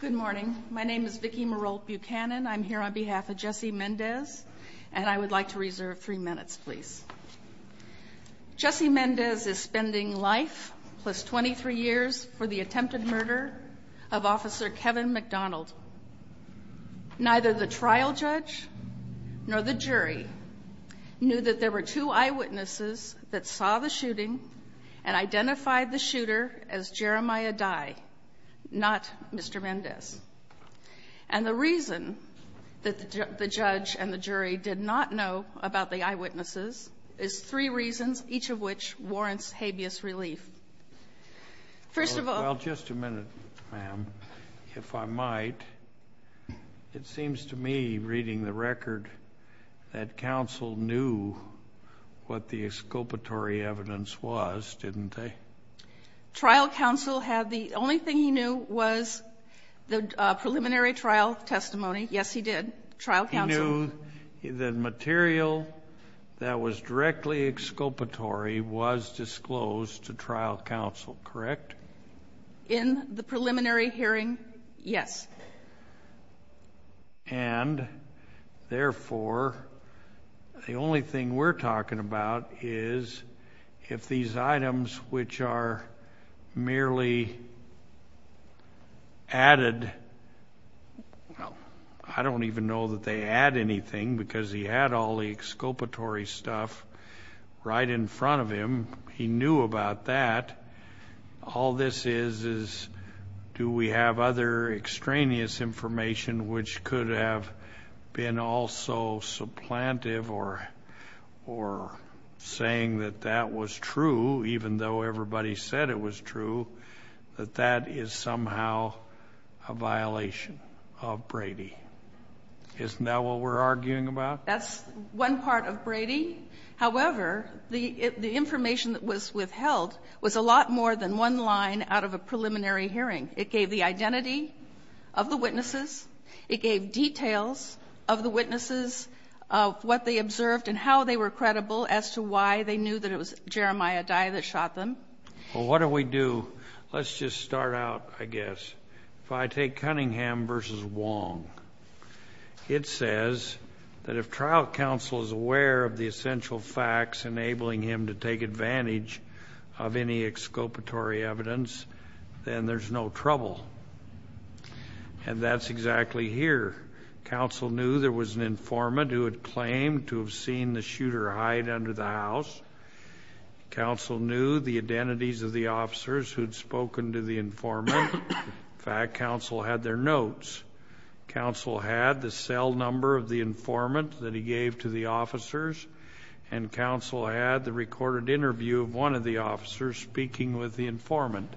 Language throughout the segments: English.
Good morning. My name is Vicki Merol Buchanan. I'm here on behalf of Jesse Mendez, and I would like to reserve three minutes, please. Jesse Mendez is spending life plus 23 years for the attempted murder of Officer Kevin McDonald. Neither the trial judge nor the jury knew that there were two eyewitnesses that saw the shooting and identified the shooter as Jeremiah Dye, not Mr. Mendez. And the reason that the judge and the jury did not know about the eyewitnesses is three reasons, each of which warrants habeas relief. First of all, just a minute, ma'am, if I might. It seems to me, reading the record, that counsel knew what the exculpatory evidence was, didn't they? Trial counsel had, the only thing he knew was the preliminary trial testimony. Yes, he did. Trial counsel. He knew the material that was directly exculpatory was disclosed to trial counsel, correct? In the preliminary hearing, yes. And therefore, the only thing we're talking about is if these items, which are merely added, well, I don't even know that they add anything because he had all the exculpatory stuff right in front of him, he knew about that. All this is, is do we have other extraneous information which could have been also supplantive or saying that that was true, even though everybody said it was true, that that is somehow a violation of Brady? Isn't that what we're arguing about? That's one part of Brady. However, the information that was withheld was a lot more than one line out of a preliminary hearing. It gave the identity of the witnesses. It gave details of the witnesses, of what they observed and how they were credible as to why they knew that it was Jeremiah Dye that shot them. Well, what do we do? Let's just start out, I guess, if I take Cunningham versus Wong. It says that if trial counsel is aware of the essential facts enabling him to take advantage of any exculpatory evidence, then there's no trouble. And that's exactly here. Counsel knew there was an informant who had claimed to have seen the shooter hide under the house. Counsel knew the identities of the officers who'd spoken to the informant. In fact, counsel had their notes. Counsel had the cell number of the informant that he gave to the officers. And counsel had the recorded interview of one of the officers speaking with the informant.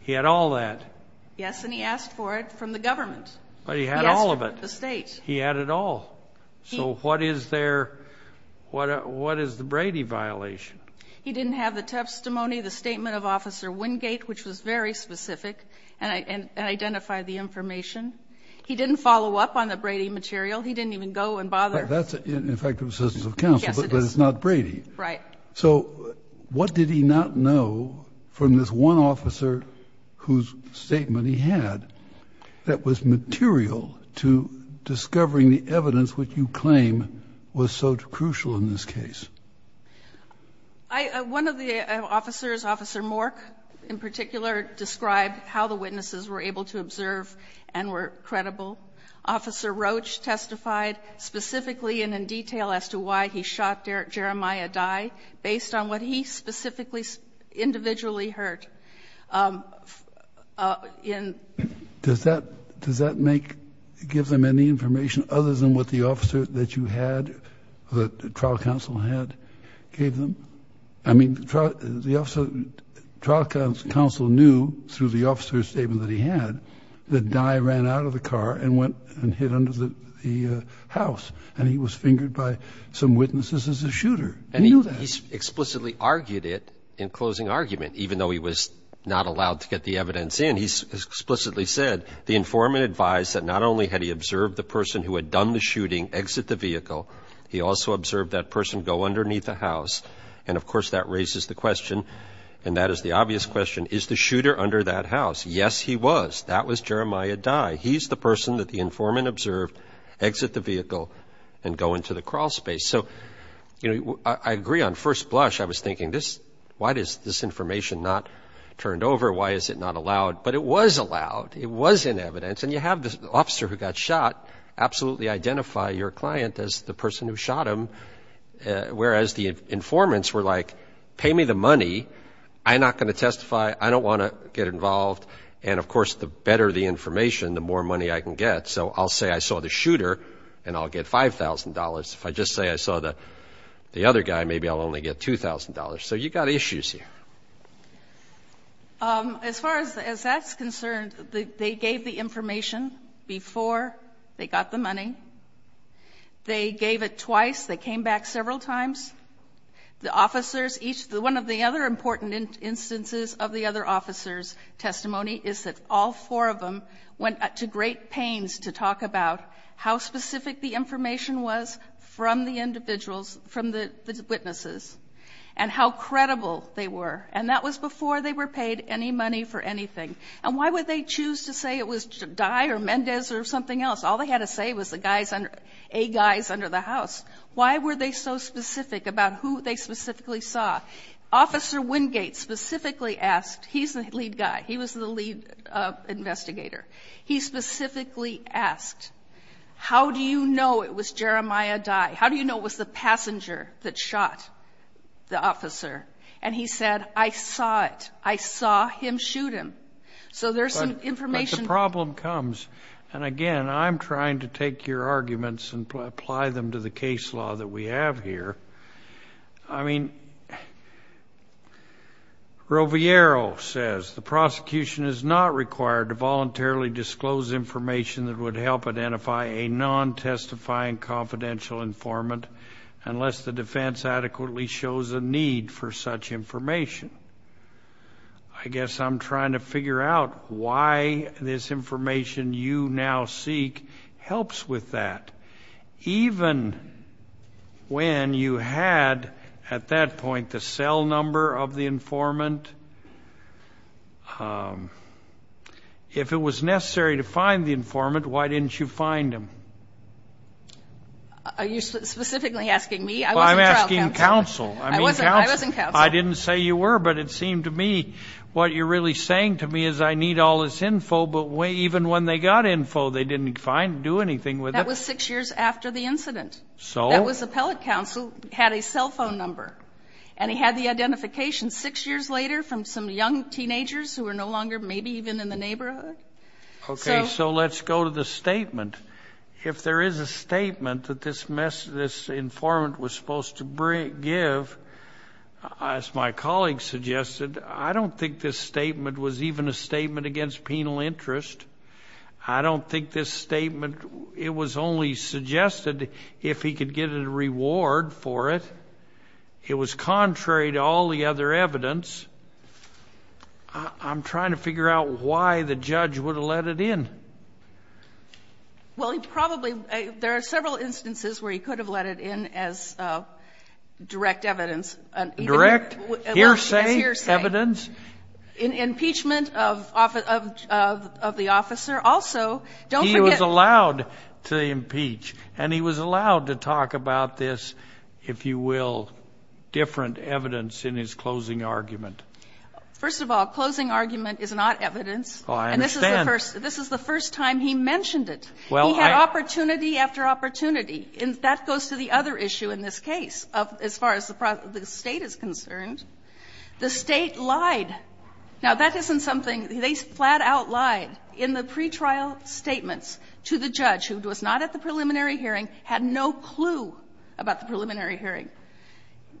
He had all that. Yes. And he asked for it from the government. But he had all of it. He asked from the state. He had it all. So what is the Brady violation? He didn't have the testimony, the statement of Officer Wingate, which was very important, and identify the information. He didn't follow up on the Brady material. He didn't even go and bother. That's an effective assistance of counsel, but it's not Brady. Right. So what did he not know from this one officer whose statement he had that was material to discovering the evidence which you claim was so crucial in this case? I, one of the officers, Officer Mork, in particular, described how the witnesses were able to observe and were credible. Officer Roach testified specifically and in detail as to why he shot Jeremiah Dye based on what he specifically individually heard. Um, uh, in. Does that, does that make, give them any information other than what the officer that you had, the trial counsel had gave them? I mean, the trial, the officer, trial counsel knew through the officer's statement that he had that Dye ran out of the car and went and hid under the, the, uh, house and he was fingered by some witnesses as a shooter. And he explicitly argued it in closing argument, even though he was not allowed to get the evidence in. He's explicitly said the informant advised that not only had he observed the shooting exit the vehicle, he also observed that person go underneath the house. And of course that raises the question. And that is the obvious question. Is the shooter under that house? Yes, he was. That was Jeremiah Dye. He's the person that the informant observed exit the vehicle and go into the crawl space. So, you know, I agree on first blush. I was thinking this, why does this information not turned over? Why is it not allowed? But it was allowed. It was in evidence. And you have the officer who got shot absolutely identify your client as the person who shot him. Whereas the informants were like, pay me the money. I'm not going to testify. I don't want to get involved. And of course, the better the information, the more money I can get. So I'll say I saw the shooter and I'll get $5,000. If I just say I saw the, the other guy, maybe I'll only get $2,000. So you got issues here. Um, as far as, as that's concerned, the, they gave the information before they got the money, they gave it twice. They came back several times. The officers, each one of the other important instances of the other officers testimony is that all four of them went to great pains to talk about how specific the information was from the individuals, from the witnesses and how credible they were. And that was before they were paid any money for anything. And why would they choose to say it was Dye or Mendez or something else? All they had to say was the guys under, a guys under the house. Why were they so specific about who they specifically saw? Officer Wingate specifically asked, he's the lead guy. He was the lead investigator. He specifically asked, how do you know it was Jeremiah Dye? How do you know it was the passenger that shot the officer? And he said, I saw it. I saw him shoot him. So there's some information. The problem comes, and again, I'm trying to take your arguments and apply them to the case law that we have here. I mean, Roviero says the prosecution is not required to voluntarily disclose information that would help identify a non-testifying confidential informant unless the defense adequately shows a need for such information. I guess I'm trying to figure out why this information you now seek helps with that. Even when you had at that point, the cell number of the informant, if it was necessary to find the informant, why didn't you find him? Are you specifically asking me? I'm asking counsel. I didn't say you were, but it seemed to me what you're really saying to me is I need all this info, but even when they got info, they didn't do anything with it. That was six years after the incident. So that was the appellate counsel had a cell phone number and he had the identification six years later from some young teenagers who are no longer, maybe even in the neighborhood. Okay. So let's go to the statement. If there is a statement that this informant was supposed to give, as my colleague suggested, I don't think this statement was even a statement against penal interest. I don't think this statement, it was only suggested if he could get a reward for it. It was contrary to all the other evidence. I'm trying to figure out why the judge would have let it in. Well, he probably, there are several instances where he could have let it in as a direct evidence, direct evidence in impeachment of, of, of, of the officer. Also, he was allowed to impeach and he was allowed to talk about this, if you will, different evidence in his closing argument. First of all, closing argument is not evidence. And this is the first, this is the first time he mentioned it. He had opportunity after opportunity. And that goes to the other issue in this case of, as far as the State is concerned. The State lied. Now, that isn't something, they flat out lied in the pretrial statements to the judge who was not at the preliminary hearing, had no clue about the preliminary hearing.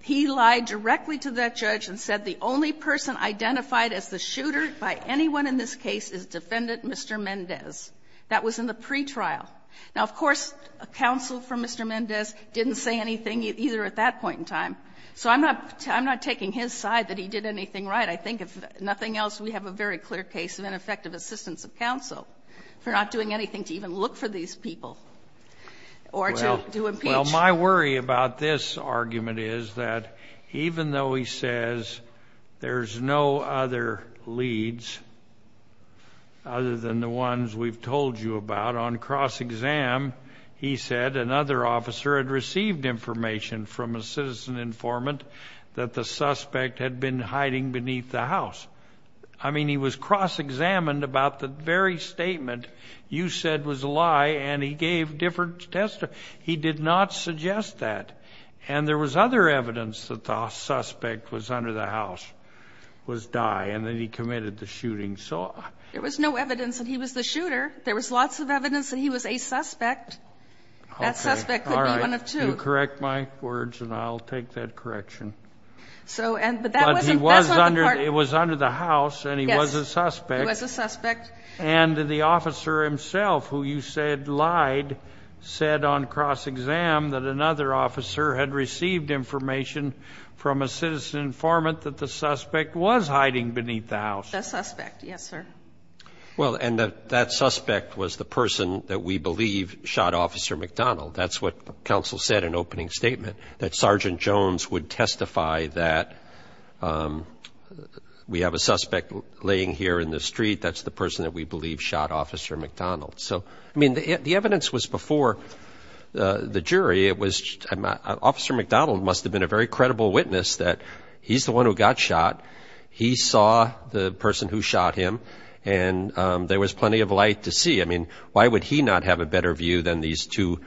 He lied directly to that judge and said the only person identified as the shooter by anyone in this case is defendant Mr. Mendez. That was in the pretrial. Now, of course, counsel for Mr. Mendez didn't say anything either at that point in time. So I'm not, I'm not taking his side that he did anything right. I think if nothing else, we have a very clear case of ineffective assistance of counsel for not doing anything to even look for these people or to, to impeach. Well, my worry about this argument is that even though he says there's no other leads other than the ones we've told you about on cross-exam, he said another officer had received information from a citizen informant that the suspect had been hiding beneath the house. I mean, he was cross-examined about the very statement you said was a lie and he gave different testimony. He did not suggest that. And there was other evidence that the suspect was under the house, was die, and then he committed the shooting. So there was no evidence that he was the shooter. There was lots of evidence that he was a suspect. That suspect could be one of two. Correct my words and I'll take that correction. So, and, but that wasn't, it was under the house and he was a suspect. And the officer himself, who you said lied, said on cross-exam that another officer had received information from a citizen informant that the suspect was hiding beneath the house. The suspect, yes sir. Well, and that suspect was the person that we believe shot Officer McDonald. That's what counsel said in opening statement, that Sergeant Jones would testify that we have a suspect laying here in the street. That's the person that we believe shot Officer McDonald. So, I mean, the evidence was before the jury. It was, Officer McDonald must have been a very credible witness that he's the one who got shot. He saw the person who shot him and there was plenty of light to see. I mean, why would he not have a better view than these two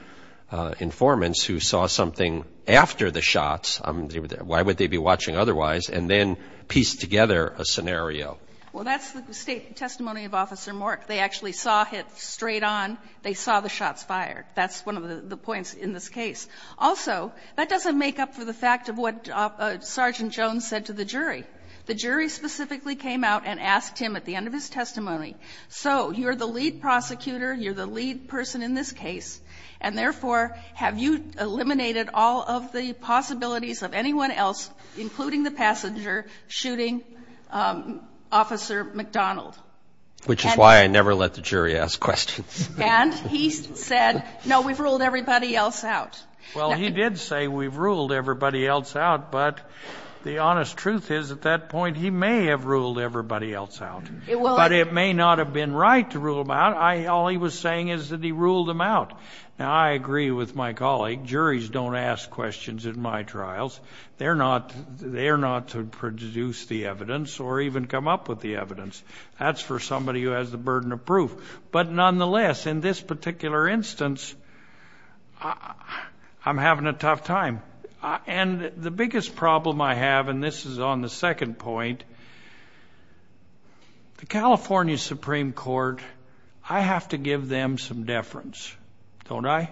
informants who saw something after the shots? Why would they be watching otherwise? And then piece together a scenario. Well, that's the testimony of Officer Mork. They actually saw it straight on. They saw the shots fired. That's one of the points in this case. Also, that doesn't make up for the fact of what Sergeant Jones said to the jury. The jury specifically came out and asked him at the end of his testimony, so you're the lead prosecutor, you're the lead person in this case. And therefore, have you eliminated all of the possibilities of anyone else, including the passenger, shooting Officer McDonald? Which is why I never let the jury ask questions. And he said, no, we've ruled everybody else out. Well, he did say we've ruled everybody else out, but the honest truth is, at that point, he may have ruled everybody else out. But it may not have been right to rule them out. All he was saying is that he ruled them out. Now, I agree with my colleague. Juries don't ask questions in my trials. They're not to produce the evidence or even come up with the evidence. That's for somebody who has the burden of proof. But nonetheless, in this particular instance, I'm having a tough time. And the biggest problem I have, and this is on the second point, the California Supreme Court, I have to give them some deference. Don't I?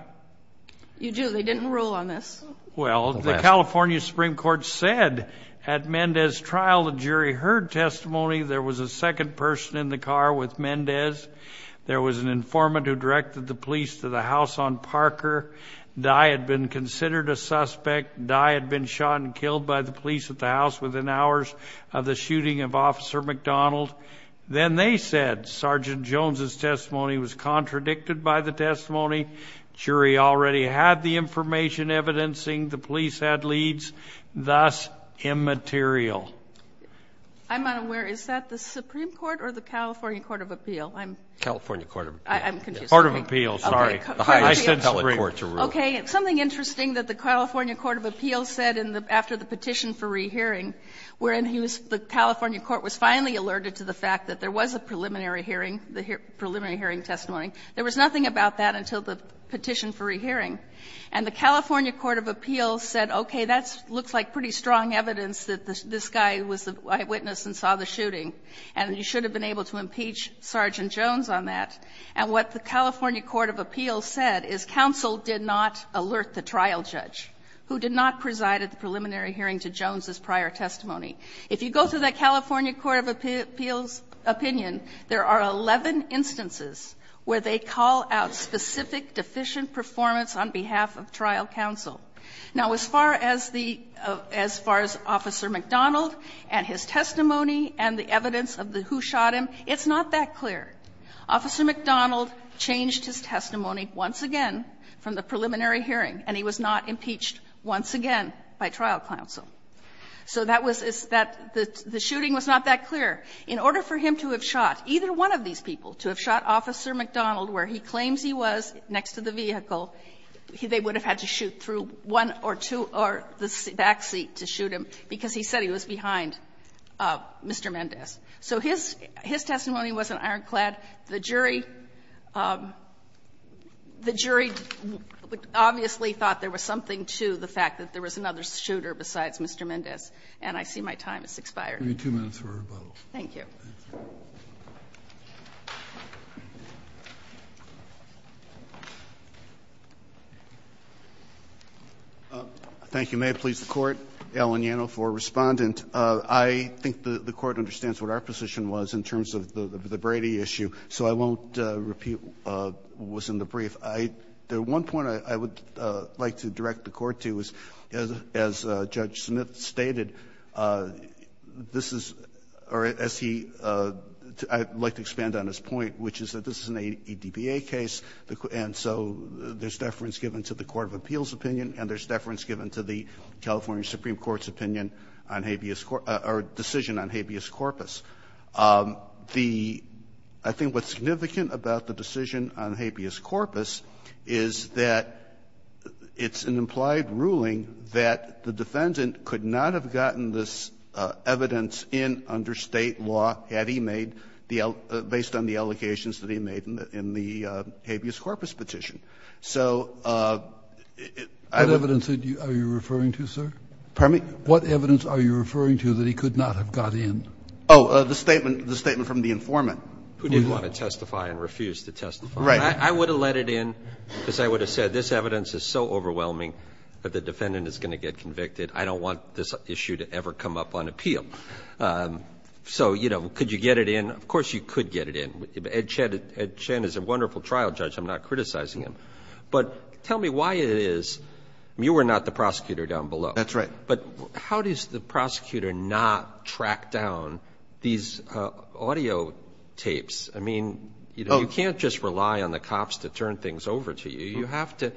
You do. They didn't rule on this. Well, the California Supreme Court said at Mendez's trial, the jury heard testimony there was a second person in the car with Mendez. There was an informant who directed the police to the house on Parker. Dye had been considered a suspect. Dye had been shot and killed by the police at the house within hours of the shooting of Officer McDonald. Then they said Sergeant Jones's testimony was contradicted by the testimony. Jury already had the information evidencing. The police had leads, thus immaterial. And the California Supreme Court said, okay, I'm not aware of the Supreme Court or the California Court of Appeal. I'm not aware. Is that the Supreme Court or the California Court of Appeal? I'm confused. California Court of Appeal. Court of Appeal, sorry. I said Supreme Court to rule. Okay. Something interesting that the California Court of Appeal said after the petition for rehearing, wherein he was the California Court was finally alerted to the fact that there was a preliminary hearing, the preliminary hearing testimony. There was nothing about that until the petition for rehearing. And the California Court of Appeal said, okay, that looks like pretty strong evidence that this guy was the eyewitness and saw the shooting, and you should have been able to impeach Sergeant Jones on that. And what the California Court of Appeal said is counsel did not alert the trial judge, who did not preside at the preliminary hearing to Jones's prior testimony. If you go to the California Court of Appeal's opinion, there are 11 instances where they call out specific deficient performance on behalf of trial counsel. Now, as far as the as far as Officer McDonald and his testimony and the evidence of the who shot him, it's not that clear. Officer McDonald changed his testimony once again from the preliminary hearing, and he was not impeached once again by trial counsel. So that was that the shooting was not that clear. In order for him to have shot, either one of these people, to have shot Officer McDonald where he claims he was next to the vehicle, they would have had to shoot through one or two or the back seat to shoot him, because he said he was behind Mr. Mendez. So his testimony was an ironclad. The jury, the jury obviously thought there was something to the fact that there was another shooter besides Mr. Mendez, and I see my time has expired. I'll give you two minutes for rebuttal. Thank you. Thank you. May I please the Court? Allen Yano for Respondent. I think the Court understands what our position was in terms of the Brady issue, so I won't repeat what was in the brief. The one point I would like to direct the Court to is, as Judge Smith stated, this is or as he, I'd like to expand on his point, which is that this is an ADBA case, and so there's deference given to the court of appeals opinion and there's deference given to the California Supreme Court's opinion on habeas, or decision on habeas corpus. I think what's significant about the decision on habeas corpus is that it's an implied ruling that the defendant could not have gotten this evidence in under State law had he made the, based on the allocations that he made in the habeas corpus petition. So I would. What evidence are you referring to, sir? Pardon me? What evidence are you referring to that he could not have got in? Oh, the statement, the statement from the informant. Who didn't want to testify and refused to testify. Right. I would have let it in because I would have said this evidence is so overwhelming that the defendant is going to get convicted. I don't want this issue to ever come up on appeal. So, you know, could you get it in? Of course you could get it in. Ed Chen is a wonderful trial judge. I'm not criticizing him. But tell me why it is, you were not the prosecutor down below. That's right. But how does the prosecutor not track down these audio tapes? I mean, you know, you can't just rely on the cops to turn things over to you. You have to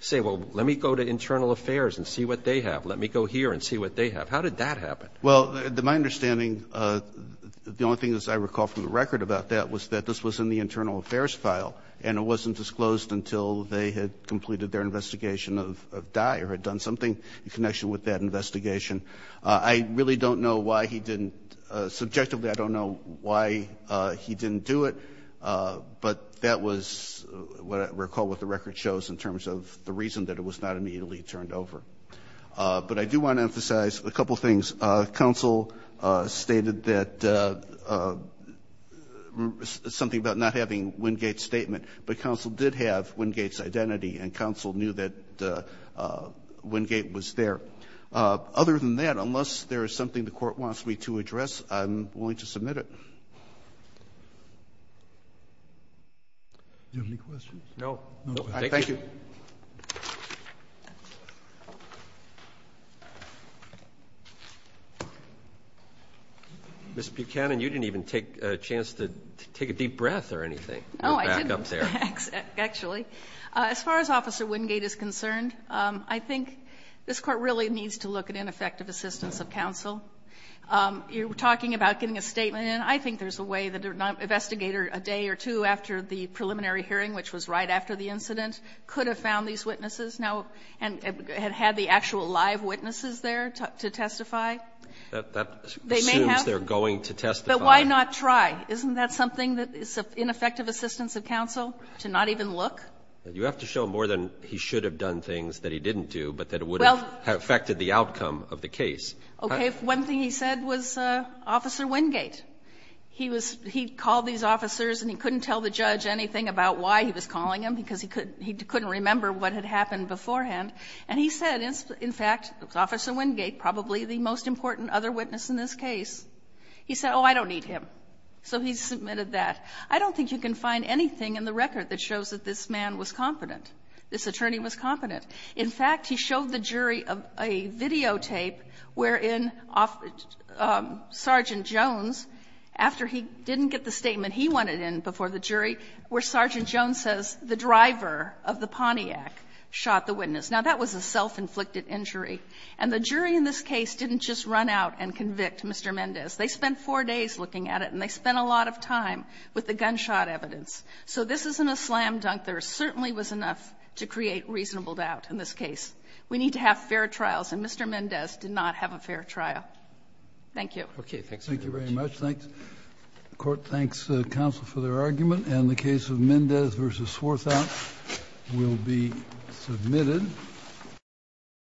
say, well, let me go to Internal Affairs and see what they have. Let me go here and see what they have. How did that happen? Well, my understanding, the only thing is I recall from the record about that was that this was in the Internal Affairs file and it wasn't disclosed until they had completed their investigation of Dyer, had done something in connection with that investigation. I really don't know why he didn't, subjectively, I don't know why he didn't do it. But that was what I recall what the record shows in terms of the reason that it was not immediately turned over. But I do want to emphasize a couple of things. Counsel stated that something about not having Wingate's statement, but counsel did have Wingate's identity and counsel knew that Wingate was there. Other than that, unless there is something the Court wants me to address, I'm willing to submit it. Do you have any questions? No. Thank you. Ms. Buchanan, you didn't even take a chance to take a deep breath or anything. No, I didn't. Go back up there. Actually, as far as Officer Wingate is concerned, I think this Court really needs to look at ineffective assistance of counsel. You're talking about getting a statement, and I think there's a way that an investigator a day or two after the preliminary hearing, which was right after the incident, could have found these witnesses now and had had the actual live witnesses there to testify. They may have. But why not try? Isn't that something that is ineffective assistance of counsel, to not even look? You have to show more than he should have done things that he didn't do, but that it would have affected the outcome of the case. Okay. One thing he said was Officer Wingate. He was he called these officers and he couldn't tell the judge anything about why he was calling him, because he couldn't remember what had happened beforehand. And he said, in fact, it was Officer Wingate, probably the most important other witness in this case. He said, oh, I don't need him. So he submitted that. I don't think you can find anything in the record that shows that this man was competent, this attorney was competent. In fact, he showed the jury a videotape wherein Sergeant Jones, after he didn't get the statement he wanted in before the jury, where Sergeant Jones says the driver of the Pontiac shot the witness. Now, that was a self-inflicted injury. And the jury in this case didn't just run out and convict Mr. Mendez. They spent four days looking at it and they spent a lot of time with the gunshot evidence. So this isn't a slam dunk. There certainly was enough to create reasonable doubt in this case. We need to have fair trials, and Mr. Mendez did not have a fair trial. Thank you. Roberts, thank you very much. The Court thanks counsel for their argument, and the case of Mendez v. Swarthout will be submitted.